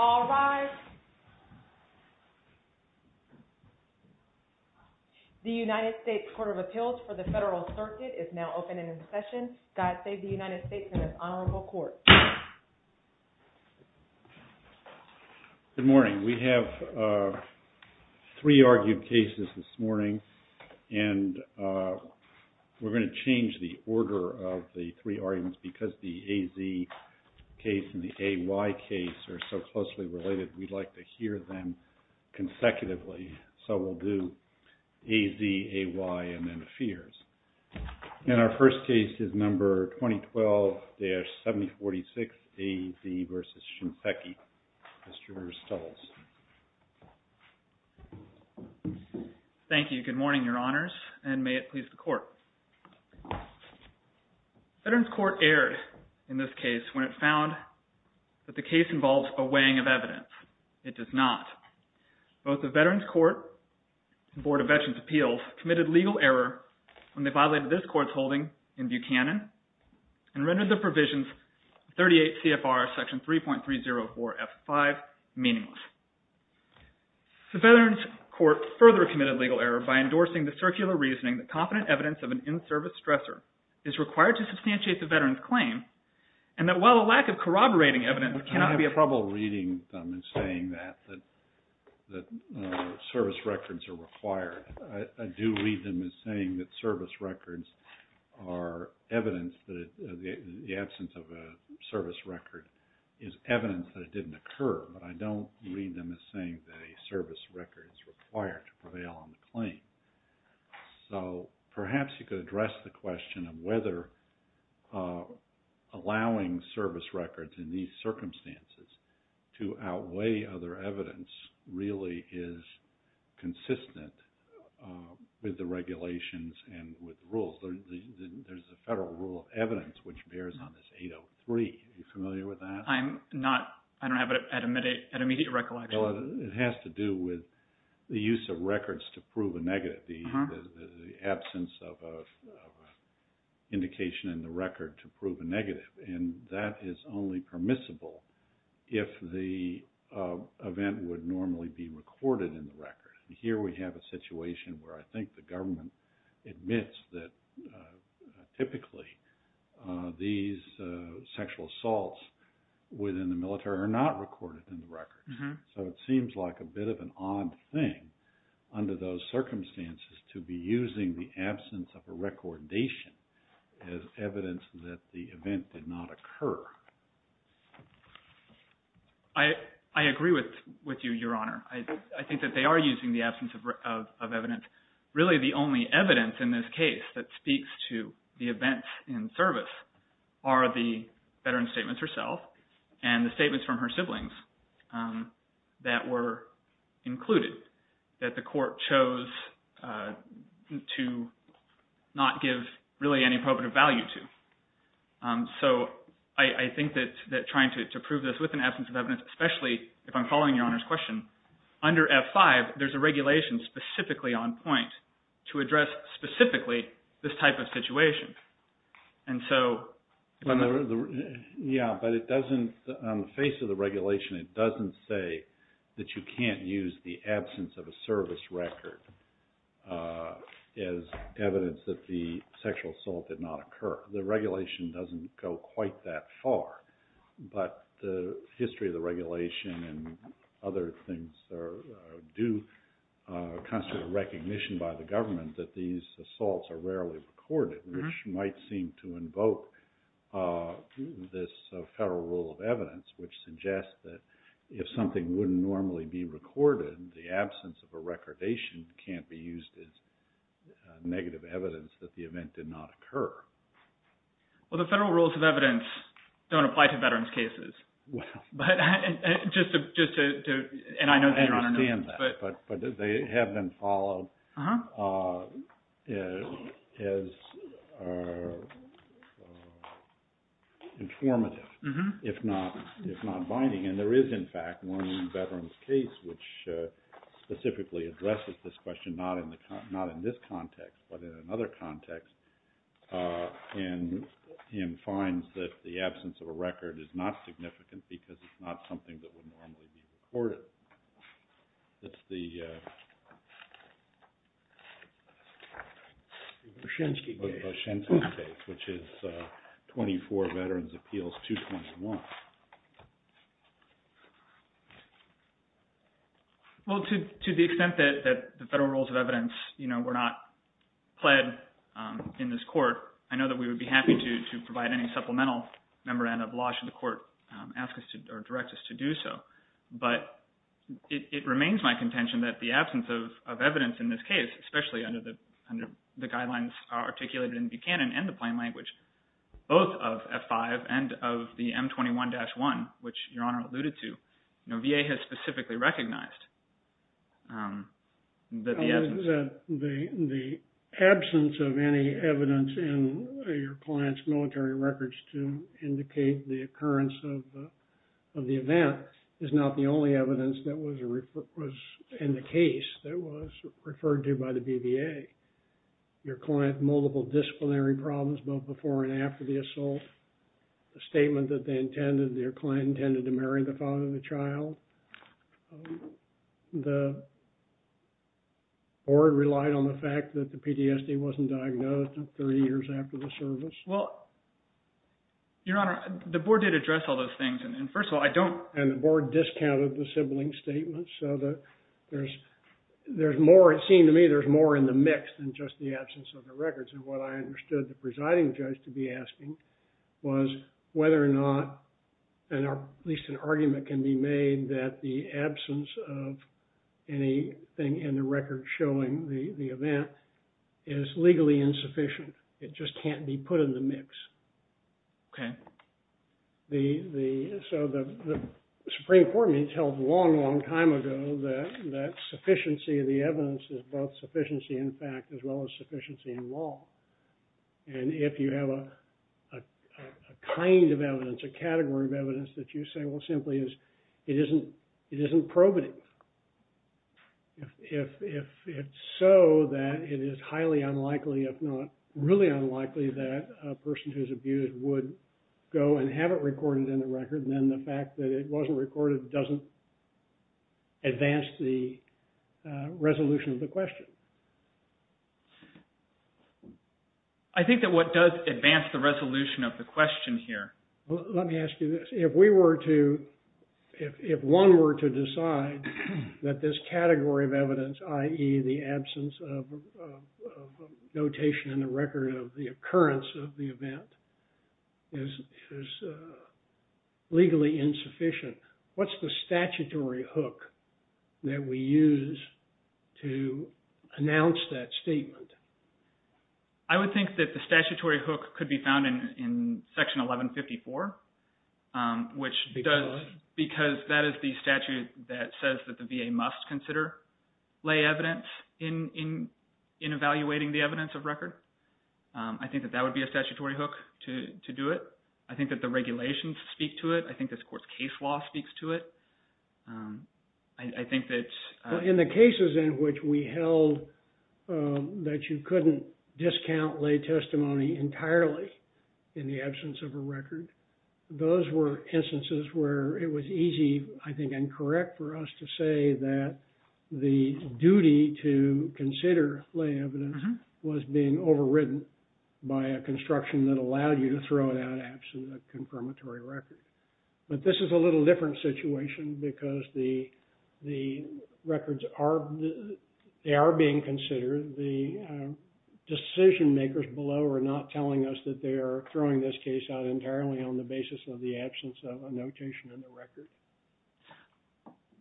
All rise. The United States Court of Appeals for the Federal Circuit is now open and in session. God save the United States and this honorable court. Good morning. We have three argued cases this morning and we're going to change the order of the three arguments because the AZ case and the AY case are so closely related we'd like to hear them consecutively. So we'll do AZ, AY and then the fears. And our first case is number 2012-7046 AZ versus Shinseki. Mr. Stoltz. Thank you. Good morning, your honors and may it please the court. Veterans Court erred in this case when it found that the case involves a weighing of evidence. It does not. Both the Veterans Court and Board of Veterans Appeals committed legal error when they violated this court's holding in Buchanan and rendered the provisions 38 CFR section 3.304 F5 meaningless. The Veterans Court further committed legal error by endorsing the circular reasoning that confident evidence of an in-service stressor is required to substantiate the veteran's claim and that while a lack of corroborating evidence cannot be a problem. I have trouble reading them and saying that service records are required. I do read them as saying that service records are evidence that the absence of a service record is evidence that it didn't occur but I don't read them as saying that a service record is required to prevail on the claim. So perhaps you could address the question of whether allowing service records in these circumstances to outweigh other evidence really is consistent with the regulations and with the rules. There's a federal rule of evidence which bears on this 803. Are you familiar with that? I'm not. I don't have it at immediate recollection. Well, it has to do with the use of records to prove a negative, the absence of an indication in the record to prove a negative and that is only permissible if the event would normally be recorded in the record. Here we have a situation where I think the government admits that typically these sexual assaults within the military are not recorded in the record. So it seems like a bit of an odd thing under those circumstances to be using the absence of a recordation as evidence that the event did not occur. I agree with you, Your Honor. I think that they are using the absence of evidence. Really the only evidence in this case that speaks to the events in service are the veteran statements herself and the statements from her siblings that were included that the court I think that trying to prove this with an absence of evidence, especially if I'm following Your Honor's question, under F-5 there's a regulation specifically on point to address specifically this type of situation. Yeah, but it doesn't, on the face of the regulation, it doesn't say that you can't use the absence of a service record as evidence that the sexual assault did not occur. The regulation doesn't go quite that far, but the history of the regulation and other things do constitute recognition by the government that these assaults are rarely recorded, which might seem to invoke this federal rule of evidence, which suggests that if something wouldn't normally be recorded, the absence of a recordation can't be used as negative evidence that the event did not occur. Well, the federal rules of evidence don't apply to veterans' cases. Well. But just to, and I know that Your Honor knows. I understand that, but they have been followed as informative, if not binding. And there is in fact one veteran's case which specifically addresses this question, not in this context, but in another context, and he finds that the absence of a record is not significant because it's not something that would normally be recorded. That's the Voschensky case, which is 24 Veterans' Appeals 2.1. Well, to the extent that the federal rules of evidence were not pled in this court, I know that we would be happy to provide any supplemental memorandum of law should the court ask us or direct us to do so. But it remains my contention that the absence of evidence in this case, especially under the guidelines articulated in Buchanan and the which Your Honor alluded to, VA has specifically recognized that the absence. The absence of any evidence in your client's military records to indicate the occurrence of the event is not the only evidence that was in the case that was referred to by the BVA. Your client, multiple disciplinary problems both before and after the assault, a statement that they intended, their client intended to marry the father of the child. The board relied on the fact that the PTSD wasn't diagnosed until 30 years after the service. Well, Your Honor, the board did address all those things. And first of all, I don't And the board discounted the sibling statements. So there's more, it seemed to me, there's more in the mix than just the absence of the records. And what I understood the presiding judge to be asking was whether or not at least an argument can be made that the absence of anything in the record showing the event is legally insufficient. It just can't be put in the mix. Okay. The, so the Supreme Court has held a long, long time ago that sufficiency of the evidence is both sufficiency in fact as well as sufficiency in law. And if you have a kind of evidence, a category of evidence that you say, well, simply is it isn't probative. If it's so that it is highly unlikely, if not really unlikely, that a person who's abused would go and have it recorded in the record, then the fact that it wasn't recorded doesn't advance the resolution of the question. I think that what does advance the resolution of the question here. Well, let me ask you this. If we were to, if one were to decide that this category of evidence, i.e. the absence of notation in the record of the occurrence of the event is legally insufficient, what's the statutory hook that we use to announce that statement? I would think that the statutory hook could be found in Section 1154, which does, because that is the statute that says that the VA must consider lay evidence in evaluating the court to do it. I think that the regulations speak to it. I think this court's case law speaks to it. I think that... In the cases in which we held that you couldn't discount lay testimony entirely in the absence of a record, those were instances where it was easy, I think, and correct for us to say that the duty to consider lay evidence was being overridden by a construction that allowed you to throw it out absent a confirmatory record. But this is a little different situation because the records are, they are being considered. The decision makers below are not telling us that they are throwing this case out entirely on the basis of the absence of a notation in the record.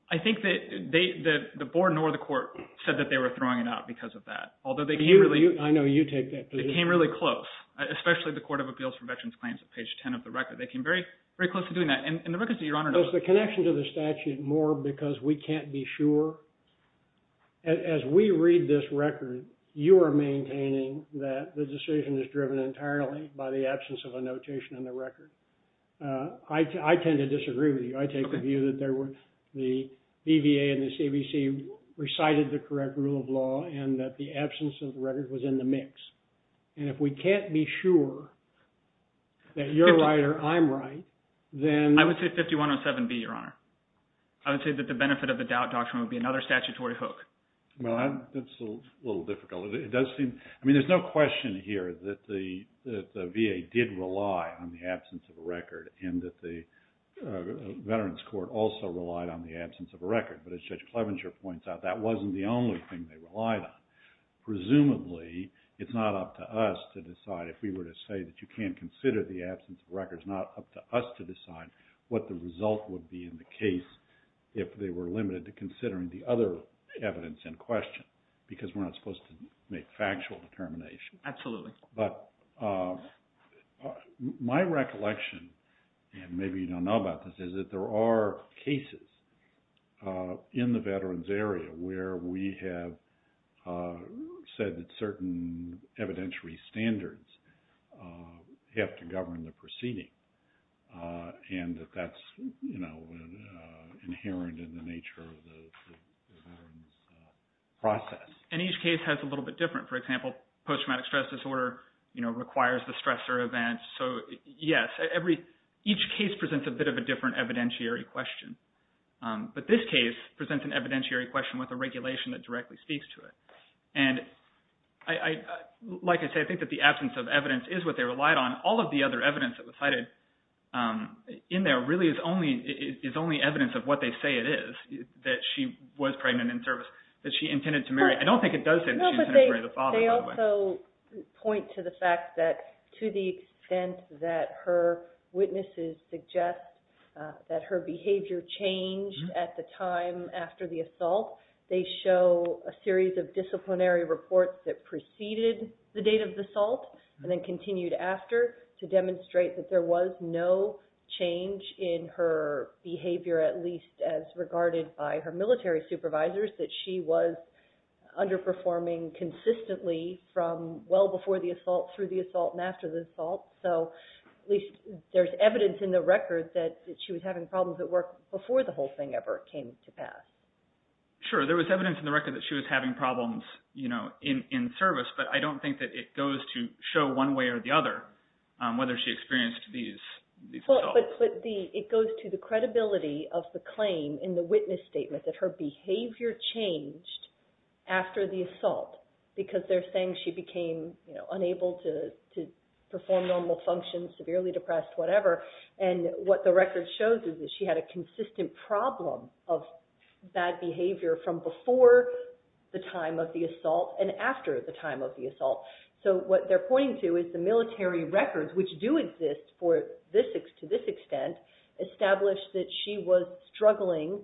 I think that the board nor the court said that they were throwing it out because of that. Although they came really... I know you take that position. They came really close, especially the Court of Appeals for Veterans Claims at page 10 of the record. They came very close to doing that. And the records that Your Honor knows... Is the connection to the statute more because we can't be sure? As we read this record, you are maintaining that the decision is driven entirely by the absence of a notation in the record. I took a view that the BVA and the CBC recited the correct rule of law and that the absence of the record was in the mix. And if we can't be sure that you're right or I'm right, then... I would say 5107B, Your Honor. I would say that the benefit of the doubt doctrine would be another statutory hook. Well, that's a little difficult. It does seem... I mean, there's no question here that the Veterans Court also relied on the absence of a record. But as Judge Clevenger points out, that wasn't the only thing they relied on. Presumably, it's not up to us to decide. If we were to say that you can't consider the absence of records, it's not up to us to decide what the result would be in the case if they were limited to considering the other evidence in question because we're not supposed to make factual determination. Absolutely. But my recollection, and maybe you don't know about this, is that there are cases in the veterans area where we have said that certain evidentiary standards have to govern the proceeding and that that's inherent in the nature of the process. And each case has a little bit different. For example, post-traumatic stress disorder requires the stressor event. So yes, each case presents a bit of a different evidentiary question. But this case presents an evidentiary question with a regulation that directly speaks to it. And like I say, I think that the absence of evidence is what they relied on. All of the other evidence that was cited in there really is only evidence of what they say it is, that she was pregnant in service, that she intended to marry. I don't think it does say that she intended to marry the father, by the way. They also point to the fact that to the extent that her witnesses suggest that her behavior changed at the time after the assault, they show a series of disciplinary reports that preceded the date of the assault and then continued after to demonstrate that there were military supervisors, that she was underperforming consistently from well before the assault, through the assault, and after the assault. So at least there's evidence in the record that she was having problems at work before the whole thing ever came to pass. Sure. There was evidence in the record that she was having problems in service, but I don't think that it goes to show one way or the other whether she experienced these assaults. It goes to the credibility of the claim in the witness statement that her behavior changed after the assault, because they're saying she became unable to perform normal functions, severely depressed, whatever, and what the record shows is that she had a consistent problem of bad behavior from before the time of the assault and after the time of the assault. So what they're pointing to is the military records, which do exist to this extent, establish that she was struggling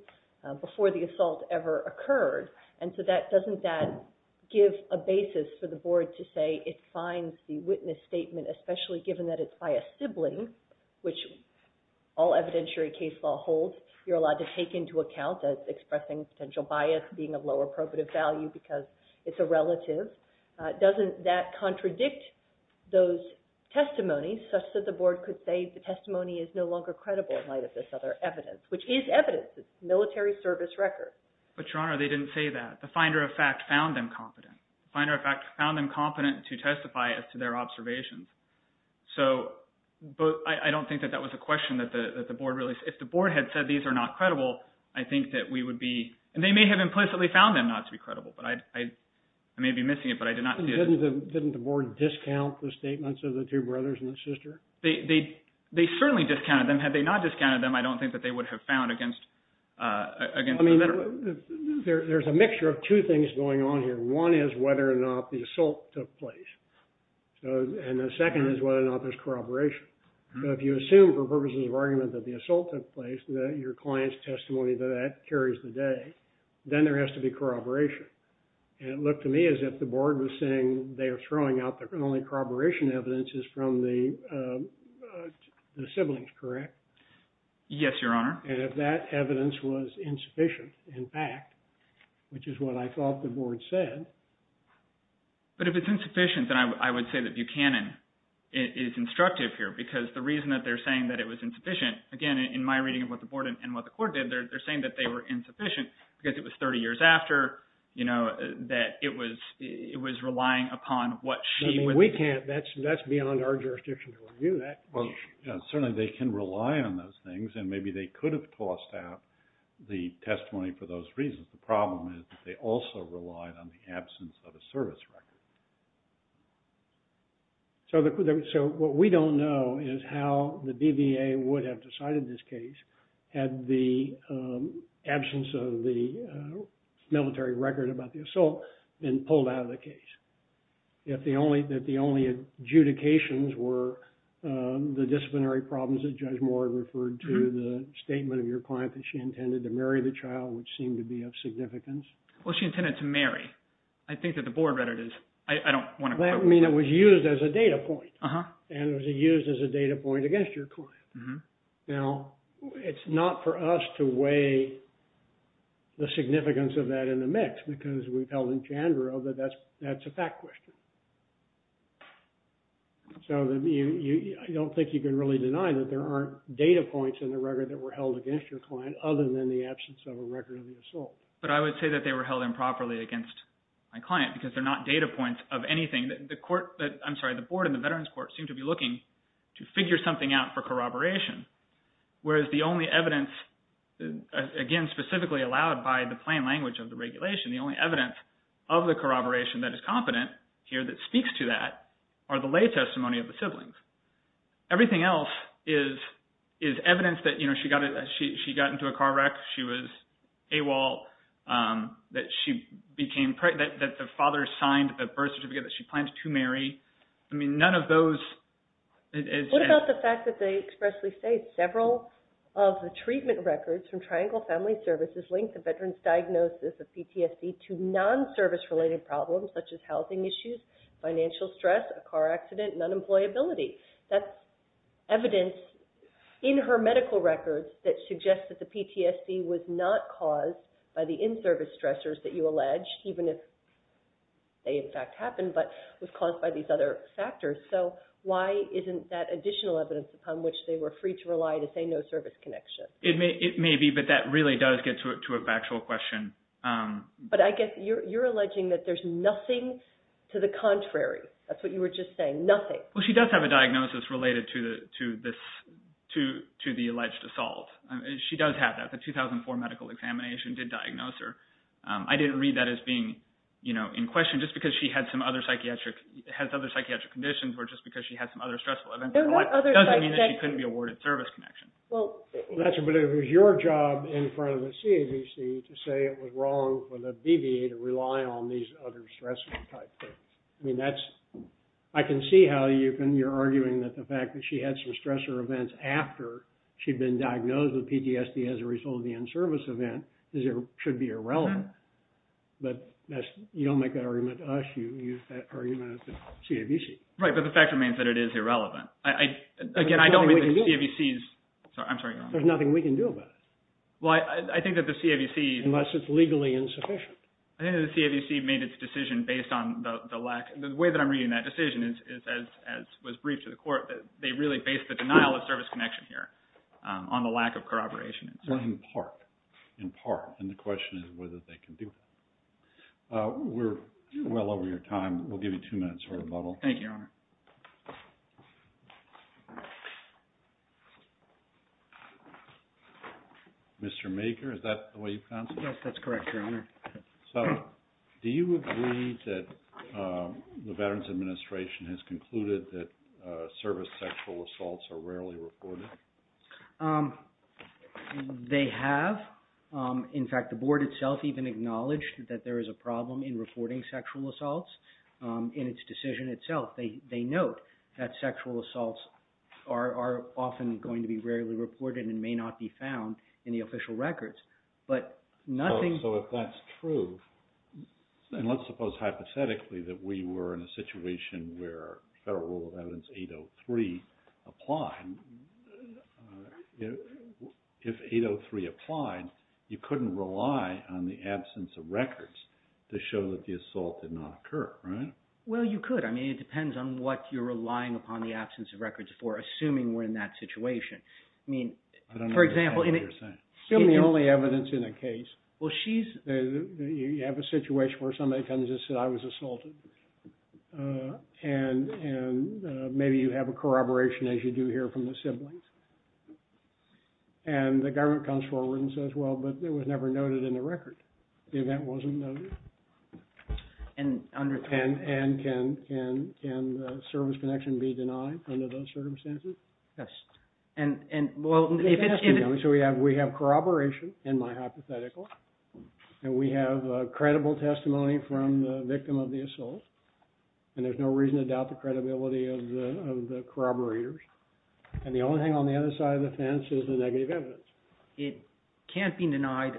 before the assault ever occurred, and so doesn't that give a basis for the board to say it finds the witness statement, especially given that it's by a sibling, which all evidentiary case law holds, you're allowed to take into account as expressing potential bias, being of low appropriate value because it's a relative. Doesn't that contradict those testimonies such that the board could say the testimony is no longer credible in light of this other evidence, which is evidence. It's a military service record. But, Your Honor, they didn't say that. The finder of fact found them competent. The finder of fact found them competent to testify as to their observations. So I don't think that that was a question that the board really – if the board had said these are not credible, I think that we would be – and they may have implicitly found them not to be credible, but I may be missing it, but I did not see it. Didn't the board discount the statements of the two brothers and the sister? They certainly discounted them. Had they not discounted them, I don't think that they would have found against – I mean, there's a mixture of two things going on here. One is whether or not the assault took place, and the second is whether or not there's corroboration. So if you assume for purposes of argument that the assault took place, that your client's testimony to that carries the day, then there has to be corroboration. And it looked to me as if the board was saying they are throwing out the only corroboration evidence is from the siblings, correct? Yes, Your Honor. And if that evidence was insufficient in fact, which is what I thought the board said. But if it's insufficient, then I would say that Buchanan is instructive here because the reason that they're saying that it was insufficient, again, in my reading of what the board and what the court did, they're saying that they were insufficient because it was 30 years after, that it was relying upon what she – We can't – that's beyond our jurisdiction to review that. Certainly, they can rely on those things, and maybe they could have tossed out the testimony for those reasons. The problem is that they also relied on the absence of a service record. So what we don't know is how the BVA would have decided this case had the absence of the military record about the assault been pulled out of the case. If the only adjudications were the disciplinary problems that Judge Moore referred to, the statement of your client that she intended to marry the child, which seemed to be of significance. Well, she intended to marry. I think that the board read it as – I don't want to – That would mean it was used as a data point, and it was used as a data point against your client. Now, it's not for us to weigh the significance of that in the mix because we've held in Chandra that that's a fact question. So I don't think you can really deny that there aren't data points in the record that were held against your client other than the absence of a record of the assault. But I would say that they were held improperly against my client because they're not data points of anything. The court – I'm sorry. The board and the Veterans Court seem to be looking to figure something out for corroboration, whereas the only evidence, again, specifically allowed by the plain language of the regulation, the only evidence of the corroboration that is competent here that speaks to that are the lay testimony of the siblings. Everything else is evidence that she got into a car wreck, she was AWOL, that she became – that the father signed a birth certificate that she planned to marry. I mean, none of those is – What about the fact that they expressly say several of the treatment records from Triangle Family Services link the veteran's diagnosis of PTSD to non-service-related problems such as housing issues, financial stress, a car accident, and unemployability? That's evidence in her medical records that suggests that the PTSD was not caused by the in-service stressors that you allege, even if they in fact happened, but was caused by these other factors. So why isn't that additional evidence upon which they were free to rely to say no service connection? It may be, but that really does get to a factual question. But I guess you're alleging that there's nothing to the contrary. That's what you were just saying, nothing. Well, she does have a diagnosis related to the alleged assault. She does have that. The 2004 medical examination did diagnose her. I didn't read that as being in question just because she has other psychiatric conditions or just because she had some other stressful events in her life. It doesn't mean that she couldn't be awarded service connection. Well, that's your job in front of the CAVC to say it was wrong for the BVA to rely on these other stressors. I mean, I can see how you're arguing that the fact that she had some stressor events after she'd been diagnosed with PTSD as a result of the in-service event should be irrelevant. But you don't make that argument to us. You use that argument at the CAVC. Right, but the fact remains that it is irrelevant. There's nothing we can do about it unless it's legally insufficient. I think that the CAVC made its decision based on the lack. The way that I'm reading that decision was briefed to the court that they really based the denial of service connection here on the lack of corroboration. In part, in part, and the question is whether they can do that. We're well over your time. We'll give you two minutes for rebuttal. Thank you, Your Honor. Mr. Maker, is that the way you pronounce it? Yes, that's correct, Your Honor. So do you agree that the Veterans Administration has concluded that service sexual assaults are rarely reported? They have. In fact, the board itself even acknowledged that there is a problem in reporting sexual assaults in its decision itself. They note that sexual assaults are often going to be rarely reported and may not be found in the official records. So if that's true, and let's suppose hypothetically that we were in a situation where Federal Rule of Evidence 803 applied. If 803 applied, you couldn't rely on the absence of records to show that the assault did not occur, right? Well, you could. I mean, it depends on what you're relying upon the absence of records for, assuming we're in that situation. I don't understand what you're saying. Assume the only evidence in a case. Well, she's... You have a situation where somebody comes and says, I was assaulted, and maybe you have a corroboration, as you do here from the siblings, and the government comes forward and says, well, but it was never noted in the record. The event wasn't noted. And can service connection be denied under those circumstances? Yes. And, well, if it's... So we have corroboration in my hypothetical, and we have credible testimony from the victim of the assault, and there's no reason to doubt the credibility of the corroborators, and the only thing on the other side of the fence is the negative evidence. It can't be denied.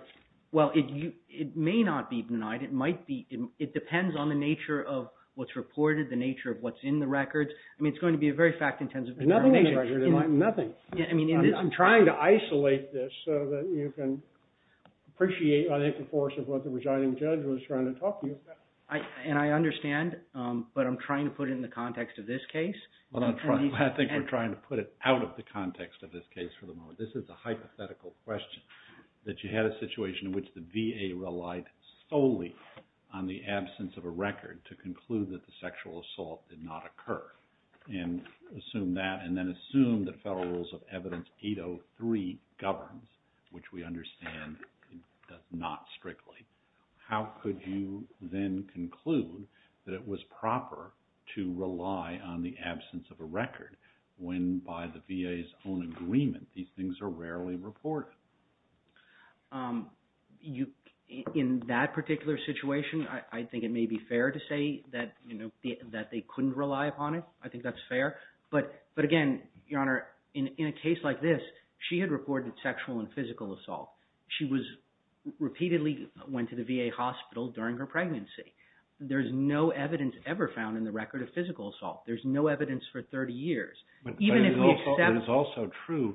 Well, it may not be denied. It might be. It depends on the nature of what's reported, the nature of what's in the records. I mean, it's going to be a very fact-intensive... There's nothing in the record. There's nothing. I mean, in this... I'm trying to isolate this so that you can appreciate, I think, the force of what the residing judge was trying to talk to you about. And I understand, but I'm trying to put it in the context of this case. I think we're trying to put it out of the context of this case for the moment. This is a hypothetical question, that you had a situation in which the VA relied solely on the absence of a record to conclude that the sexual assault did not occur, and assume that, and then assume that federal rules of evidence 803 governs, which we understand does not strictly. How could you then conclude that it was proper to rely on the absence of a record when, by the VA's own agreement, these things are rarely reported? In that particular situation, I think it may be fair to say that they couldn't rely upon it. I think that's fair. But again, Your Honor, in a case like this, she had reported sexual and physical assault. She repeatedly went to the VA hospital during her pregnancy. There's no evidence ever found in the record of physical assault. There's no evidence for 30 years. But it's also true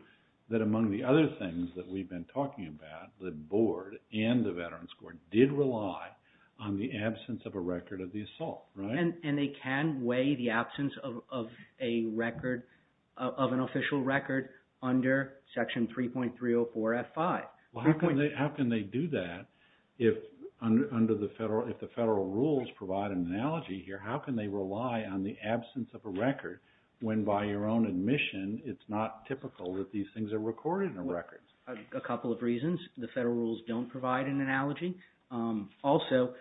that among the other things that we've been talking about, the Board and the Veterans Court did rely on the absence of a record of the assault. And they can weigh the absence of an official record under Section 3.304 F5. How can they do that if the federal rules provide an analogy here? How can they rely on the absence of a record when, by your own admission, it's not typical that these things are recorded in the records? A couple of reasons. The federal rules don't provide an analogy. Also,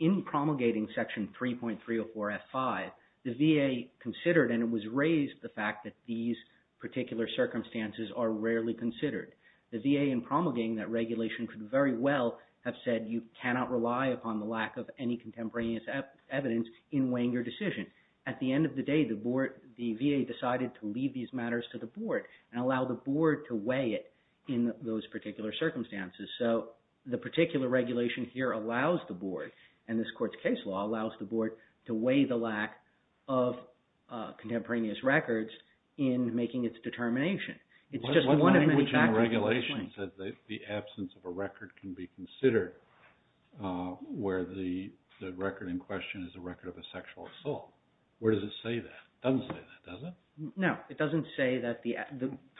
in promulgating Section 3.304 F5, the VA considered, and it was raised, the fact that these particular circumstances are rarely considered. The VA, in promulgating that regulation, could very well have said, you cannot rely upon the lack of any contemporaneous evidence in weighing your decision. At the end of the day, the VA decided to leave these matters to the Board and allow the Board to weigh it in those particular circumstances. So the particular regulation here allows the Board, and this court's case law, allows the Board to weigh the lack of contemporaneous records in making its determination. It's just one of many factors at this point. The absence of a record can be considered where the record in question is a record of a sexual assault. Where does it say that? It doesn't say that, does it? No, it doesn't say that. The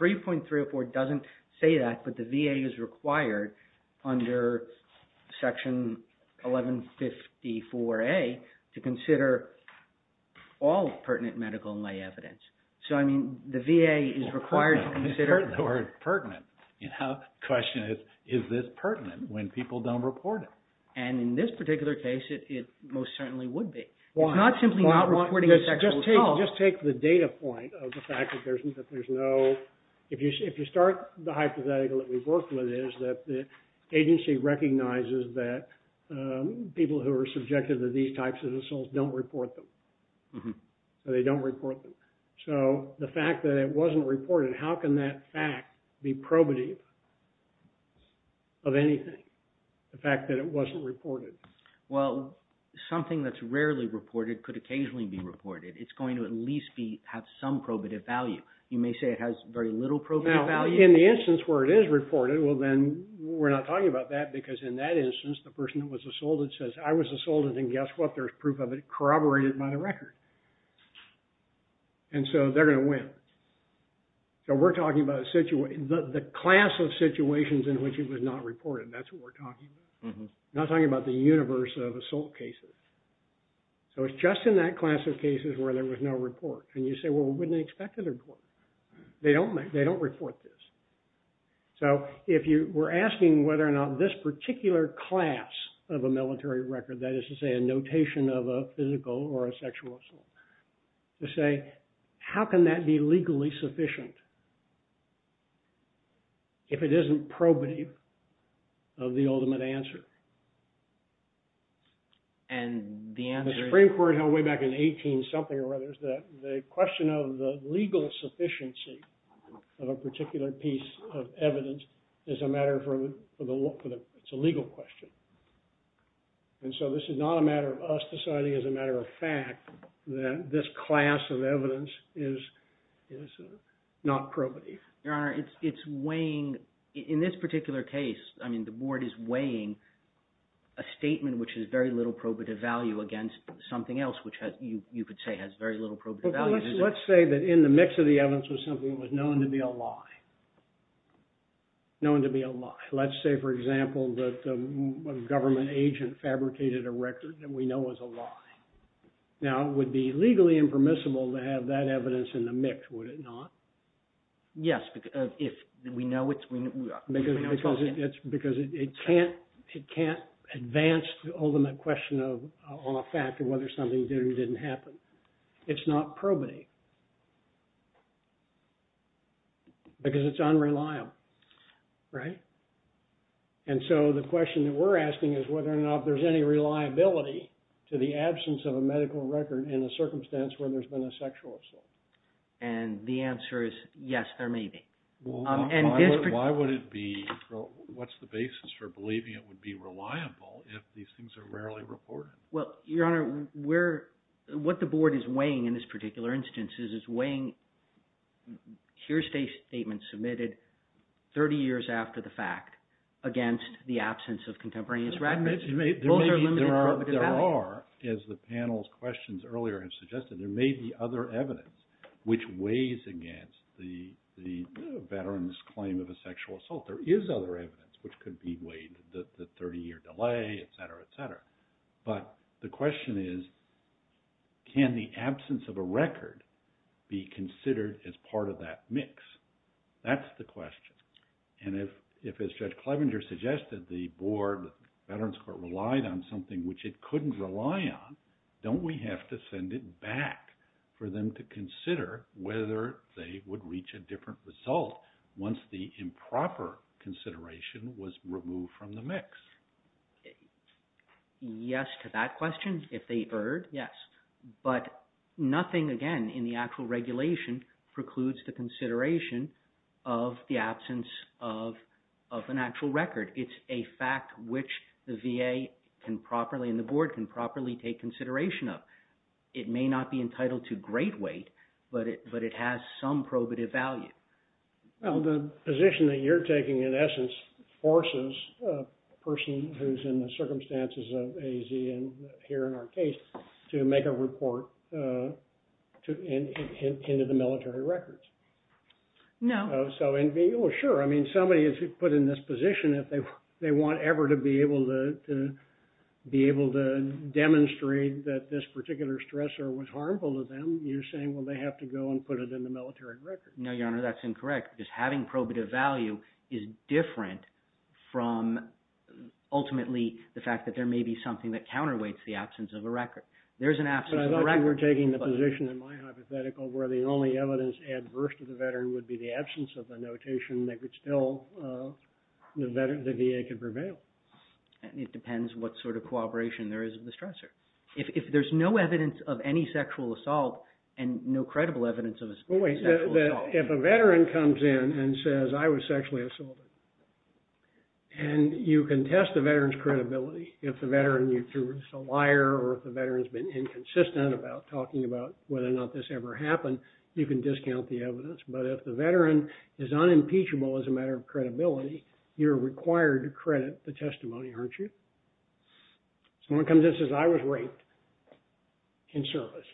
3.304 doesn't say that, but the VA is required under Section 1154A to consider all pertinent medical and lay evidence. So, I mean, the VA is required to consider... The word pertinent, the question is, is this pertinent when people don't report it? And in this particular case, it most certainly would be. Why? It's not simply not reporting a sexual assault. Just take the data point of the fact that there's no... If you start, the hypothetical that we've worked with is that the agency recognizes that people who are subjected to these types of assaults don't report them. They don't report them. So, the fact that it wasn't reported, how can that fact be probative of anything? The fact that it wasn't reported. Well, something that's rarely reported could occasionally be reported. It's going to at least have some probative value. You may say it has very little probative value. Now, in the instance where it is reported, well then, we're not talking about that because in that instance, the person who was assaulted says, I was assaulted and guess what? There's proof of it corroborated by the record. And so, they're going to win. So, we're talking about the class of situations in which it was not reported. That's what we're talking about. We're not talking about the universe of assault cases. So, it's just in that class of cases where there was no report. And you say, well, wouldn't they expect a report? They don't report this. So, if you were asking whether or not this particular class of a military record, that is to say a notation of a physical or a sexual assault, you say, how can that be legally sufficient if it isn't probative of the ultimate answer? And the answer is… The Supreme Court held way back in the 18-something or others that the question of the legal sufficiency of a particular piece of evidence is a matter for the… It's a legal question. And so, this is not a matter of us deciding as a matter of fact that this class of evidence is not probative. Your Honor, it's weighing… In this particular case, I mean, the board is weighing a statement which has very little probative value against something else which you could say has very little probative value. Let's say that in the mix of the evidence was something that was known to be a lie. Known to be a lie. Let's say, for example, that a government agent fabricated a record that we know is a lie. Now, it would be legally impermissible to have that evidence in the mix, would it not? Yes, because if we know it's… Because it can't advance the ultimate question on a fact of whether something did or didn't happen. It's not probative because it's unreliable, right? And so, the question that we're asking is whether or not there's any reliability to the absence of a medical record in a circumstance where there's been a sexual assault. And the answer is yes, there may be. Why would it be… What's the basis for believing it would be reliable if these things are rarely reported? Well, Your Honor, we're… What the board is weighing in this particular instance is it's weighing… Here's a statement submitted 30 years after the fact against the absence of contemporaneous records. Those are limited probative values. There are, as the panel's questions earlier have suggested, there may be other evidence which weighs against the veteran's claim of a sexual assault. There is other evidence which could be weighed, the 30-year delay, et cetera, et cetera. But the question is, can the absence of a record be considered as part of that mix? That's the question. And if, as Judge Clevenger suggested, the board, the Veterans Court relied on something which it couldn't rely on, don't we have to send it back for them to consider whether they would reach a different result once the improper consideration was removed from the mix? Yes to that question. If they erred, yes. But nothing, again, in the actual regulation precludes the consideration of the absence of an actual record. It's a fact which the VA can properly and the board can properly take consideration of. It may not be entitled to great weight, but it has some probative value. Well, the position that you're taking in essence forces a person who's in the circumstances of AZ and here in our case to make a report into the military records. No. Oh, sure. I mean, somebody is put in this position. If they want ever to be able to demonstrate that this particular stressor was harmful to them, you're saying, well, they have to go and put it in the military records. No, Your Honor, that's incorrect. Just having probative value is different from ultimately the fact that there may be something that counterweights the absence of a record. There's an absence of a record. But I thought you were taking the position in my hypothetical where the only evidence adverse to the veteran would be the absence of the notation. They could still, the VA could prevail. It depends what sort of cooperation there is in the stressor. If there's no evidence of any sexual assault and no credible evidence of a sexual assault. If a veteran comes in and says, I was sexually assaulted, and you can test the veteran's credibility. If the veteran is a liar or if the veteran's been inconsistent about talking about whether or not this ever happened, you can discount the evidence. But if the veteran is unimpeachable as a matter of credibility, you're required to credit the testimony, aren't you? Someone comes in and says, I was raped in service.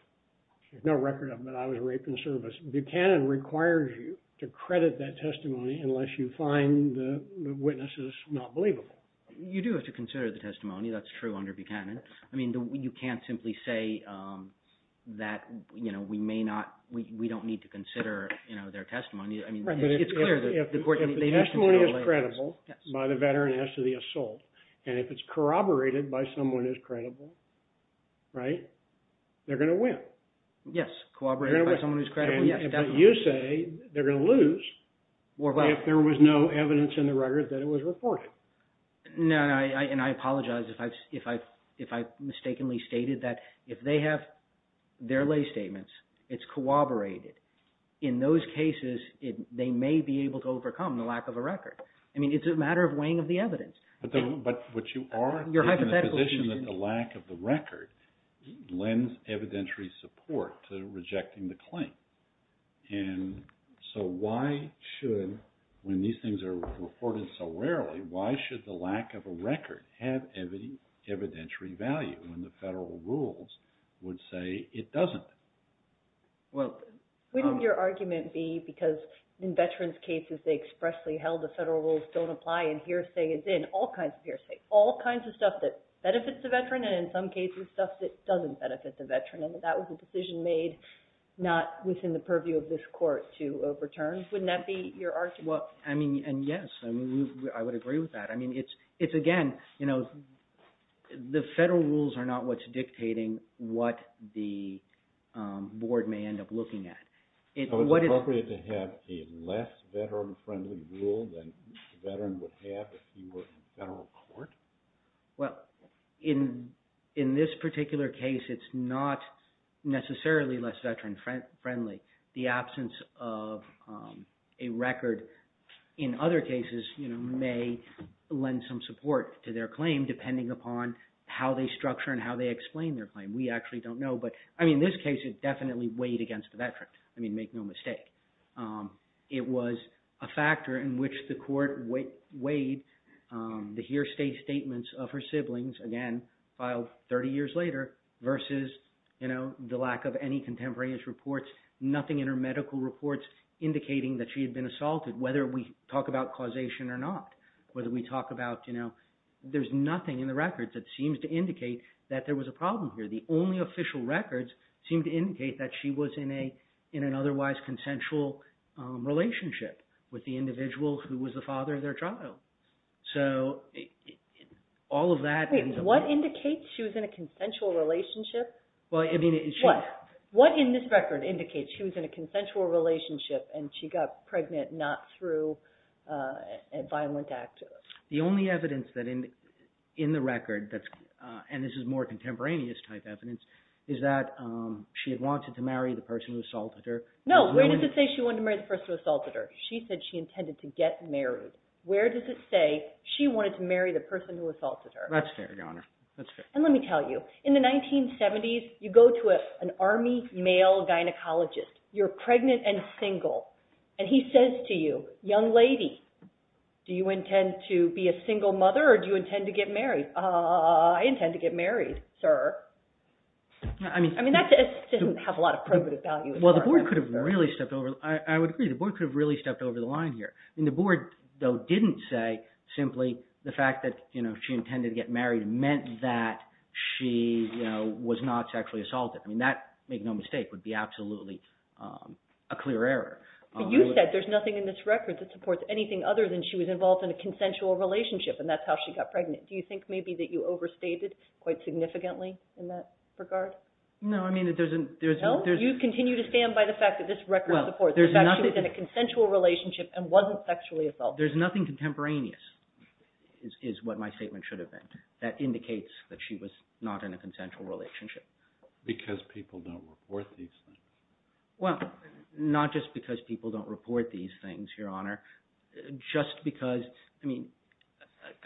There's no record of it, but I was raped in service. Buchanan requires you to credit that testimony unless you find the witnesses not believable. You do have to consider the testimony. That's true under Buchanan. I mean, you can't simply say that, you know, we may not, we don't need to consider, you know, their testimony. I mean, it's clear that the court. If the testimony is credible by the veteran as to the assault, and if it's corroborated by someone who's credible, right, they're going to win. Yes, corroborated by someone who's credible. You say they're going to lose if there was no evidence in the record that it was reported. No, and I apologize if I've mistakenly stated that if they have their lay statements, it's corroborated. In those cases, they may be able to overcome the lack of a record. I mean, it's a matter of weighing of the evidence. But you are in a position that the lack of the record lends evidentiary support to rejecting the claim. And so why should, when these things are reported so rarely, why should the lack of a record have evidentiary value when the federal rules would say it doesn't? Well, wouldn't your argument be because in veterans' cases, they expressly held the federal rules don't apply and hearsay is in, all kinds of hearsay, all kinds of stuff that benefits the veteran, and in some cases, stuff that doesn't benefit the veteran, and that that was a decision made not within the purview of this court to overturn? Wouldn't that be your argument? Well, I mean, and yes, I would agree with that. I mean, it's, again, the federal rules are not what's dictating what the board may end up looking at. So it's appropriate to have a less veteran-friendly rule than the veteran would have if he were in federal court? Well, in this particular case, it's not necessarily less veteran-friendly. The absence of a record in other cases may lend some support to their claim depending upon how they structure and how they explain their claim. We actually don't know. But, I mean, in this case, it definitely weighed against the veteran. I mean, make no mistake. It was a factor in which the court weighed the hearsay statements of her siblings, again, filed 30 years later, versus, you know, the lack of any contemporaneous reports, nothing in her medical reports indicating that she had been assaulted, whether we talk about causation or not, whether we talk about, you know, there's nothing in the records that seems to indicate that there was a problem here. The only official records seem to indicate that she was in an otherwise consensual relationship with the individual who was the father of their child. So all of that ends up… Wait. What indicates she was in a consensual relationship? Well, I mean… What? What in this record indicates she was in a consensual relationship and she got pregnant not through a violent act? The only evidence that in the record, and this is more contemporaneous type evidence, is that she had wanted to marry the person who assaulted her. No. Where does it say she wanted to marry the person who assaulted her? She said she intended to get married. Where does it say she wanted to marry the person who assaulted her? That's fair, Your Honor. That's fair. And let me tell you, in the 1970s, you go to an army male gynecologist. You're pregnant and single. And he says to you, young lady, do you intend to be a single mother or do you intend to get married? I intend to get married, sir. I mean, that doesn't have a lot of probative value. Well, the board could have really stepped over… I would agree. The board could have really stepped over the line here. I mean, the board, though, didn't say simply the fact that she intended to get married meant that she was not sexually assaulted. I mean, that, make no mistake, would be absolutely a clear error. But you said there's nothing in this record that supports anything other than she was involved in a consensual relationship and that's how she got pregnant. Do you think maybe that you overstated quite significantly in that regard? No, I mean, there's… You continue to stand by the fact that this record supports the fact that she was in a consensual relationship and wasn't sexually assaulted. There's nothing contemporaneous is what my statement should have been that indicates that she was not in a consensual relationship. Because people don't report these things. Well, not just because people don't report these things, Your Honor. Just because, I mean,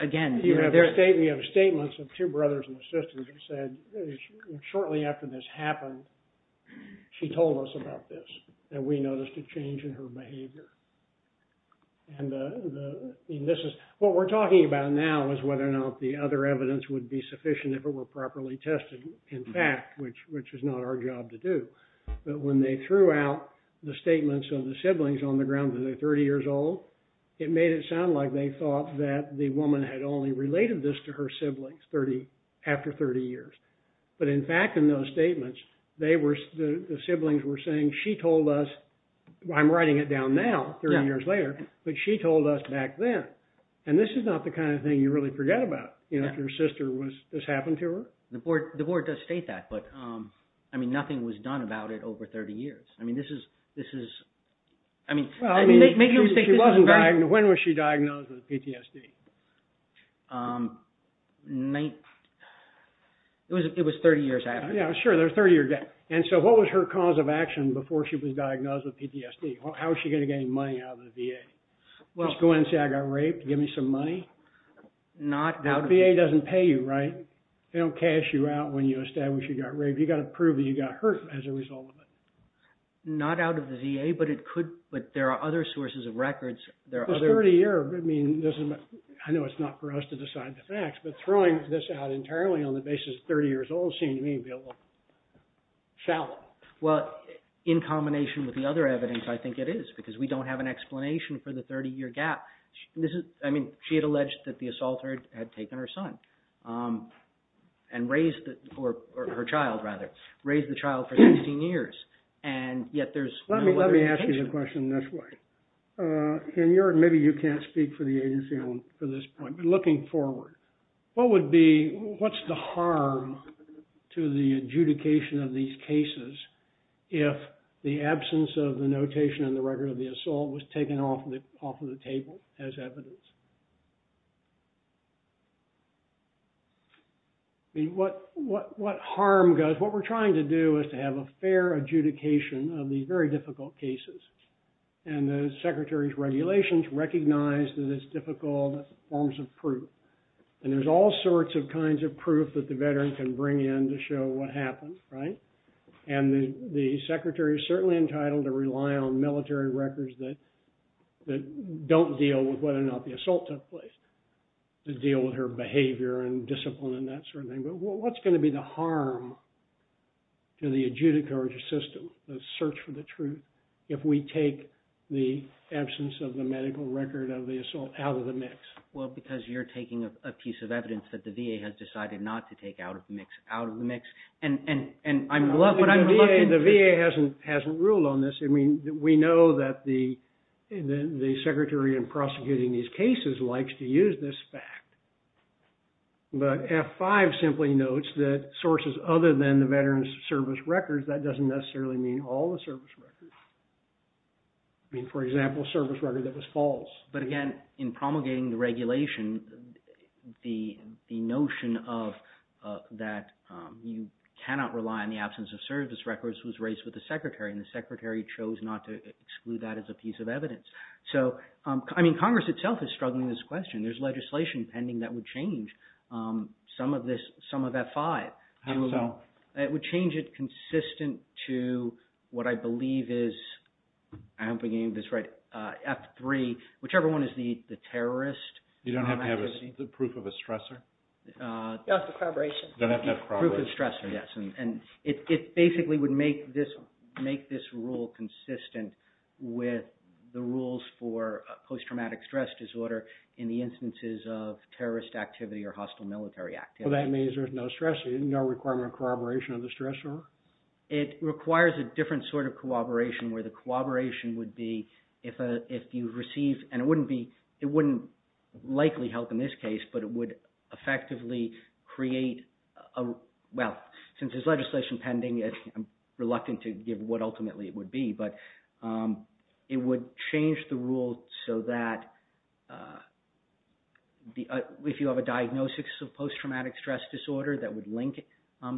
again… We have statements of two brothers and sisters who said shortly after this happened, she told us about this and we noticed a change in her behavior. And this is… What we're talking about now is whether or not the other evidence would be sufficient if it were properly tested, in fact, which is not our job to do. But when they threw out the statements of the siblings on the ground that they're 30 years old, it made it sound like they thought that the woman had only related this to her siblings after 30 years. But in fact, in those statements, they were… The siblings were saying she told us… I'm writing it down now, 30 years later, but she told us back then. And this is not the kind of thing you really forget about, you know, if your sister was… This happened to her. The board does state that, but, I mean, nothing was done about it over 30 years. I mean, this is… Well, I mean, she wasn't diagnosed… When was she diagnosed with PTSD? It was 30 years after. Yeah, sure, there's a 30-year gap. And so what was her cause of action before she was diagnosed with PTSD? How was she going to get any money out of the VA? Just go in and say, I got raped, give me some money? Not… The VA doesn't pay you, right? They don't cash you out when you establish you got raped. You've got to prove that you got hurt as a result of it. Not out of the VA, but it could… But there are other sources of records. There are other… This 30-year, I mean, doesn't… I know it's not for us to decide the facts, but throwing this out entirely on the basis of 30 years old seemed to me a little shallow. Well, in combination with the other evidence, I think it is, because we don't have an explanation for the 30-year gap. This is… I mean, she had alleged that the assaulter had taken her son. And raised the… Or her child, rather. Raised the child for 16 years, and yet there's… Let me ask you the question this way. Maybe you can't speak for the agency on this point, but looking forward, what would be… What's the harm to the adjudication of these cases if the absence of the notation in the record of the assault was taken off of the table as evidence? What harm goes… What we're trying to do is to have a fair adjudication of these very difficult cases. And the Secretary's regulations recognize that it's difficult forms of proof. And there's all sorts of kinds of proof that the veteran can bring in to show what happened, right? And the Secretary is certainly entitled to rely on military records that don't deal with whether or not the assault took place to deal with her behavior and discipline and that sort of thing. But what's going to be the harm to the adjudicator system, the search for the truth, if we take the absence of the medical record of the assault out of the mix? Well, because you're taking a piece of evidence that the VA has decided not to take out of the mix. Out of the mix. And I'm reluctant… The VA hasn't ruled on this. I mean, we know that the Secretary in prosecuting these cases likes to use this fact. But F-5 simply notes that sources other than the veteran's service records, that doesn't necessarily mean all the service records. I mean, for example, service record that was false. But again, in promulgating the regulation, the notion of that you cannot rely on the absence of service records was raised with the Secretary. And the Secretary chose not to exclude that as a piece of evidence. So, I mean, Congress itself is struggling with this question. There's legislation pending that would change some of this, some of F-5. How so? It would change it consistent to what I believe is, I hope I'm getting this right, F-3, whichever one is the terrorist. You don't have to have the proof of a stressor? That's the corroboration. You don't have to have corroboration. Proof of stressor, yes. And it basically would make this rule consistent with the rules for post-traumatic stress disorder in the instances of terrorist activity or hostile military activity. Well, that means there's no stressor, no requirement of corroboration of the stressor? It requires a different sort of corroboration where the corroboration would be if you receive, and it wouldn't likely help in this case, but it would effectively create, well, since there's legislation pending, I'm reluctant to give what ultimately it would be, but it would change the rule so that if you have a diagnosis of post-traumatic stress disorder that would link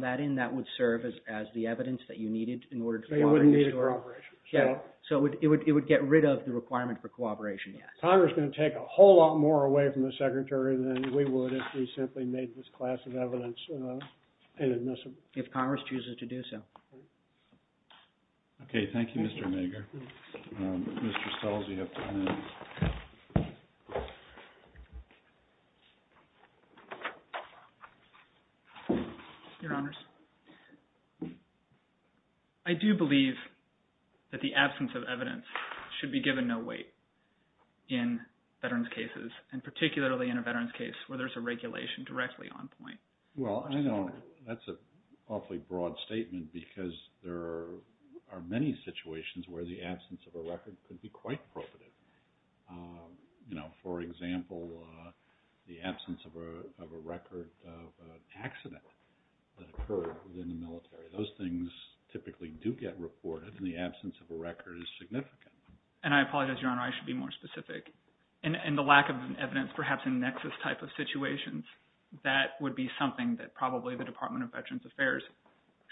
that in, that would serve as the evidence that you needed in order to corroborate. So you wouldn't need a corroboration? Yeah. So it would get rid of the requirement for corroboration, yes. Congress is going to take a whole lot more away from the Secretary than we would if we simply made this class of evidence inadmissible? If Congress chooses to do so. Okay. Thank you, Mr. Mager. Mr. Stelz, you have ten minutes. Your Honors, I do believe that the absence of evidence should be given no weight in veterans' cases, and particularly in a veterans' case where there's a regulation directly on point. Well, I know that's an awfully broad statement because there are many situations where the absence of a record could be quite profitable. For example, the absence of a record of an accident that occurred within the military. Those things typically do get reported, and the absence of a record is significant. And I apologize, Your Honor, I should be more specific. In the lack of evidence, perhaps in Nexus-type of situations, that would be something that probably the Department of Veterans Affairs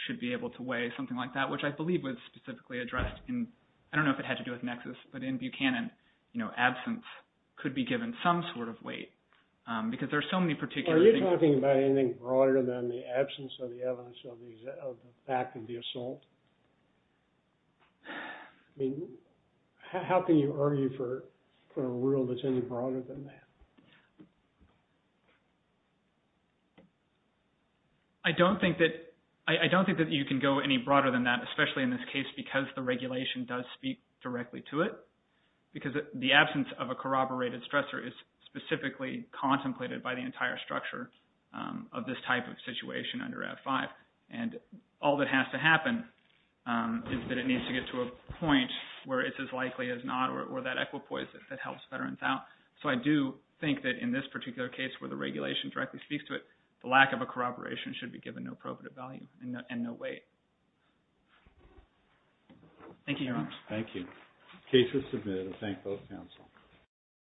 should be able to weigh, something like that, which I believe was specifically addressed in, I don't know if it had to do with Nexus, but in Buchanan, absence could be given some sort of weight because there are so many particular things. Are you talking about anything broader than the absence of the evidence of the fact of the assault? I mean, how can you argue for a rule that's any broader than that? I don't think that you can go any broader than that, especially in this case, because the regulation does speak directly to it, because the absence of a corroborated stressor is specifically contemplated by the entire structure of this type of situation under F-5. And all that has to happen is that it needs to get to a point where it's as likely as not, or that equipoise that helps veterans out. So I do think that in this particular case where the regulation directly speaks to it, the lack of a corroboration should be given no probative value and no weight. Thank you, Your Honor. Thank you. The case is submitted. I thank both counsel.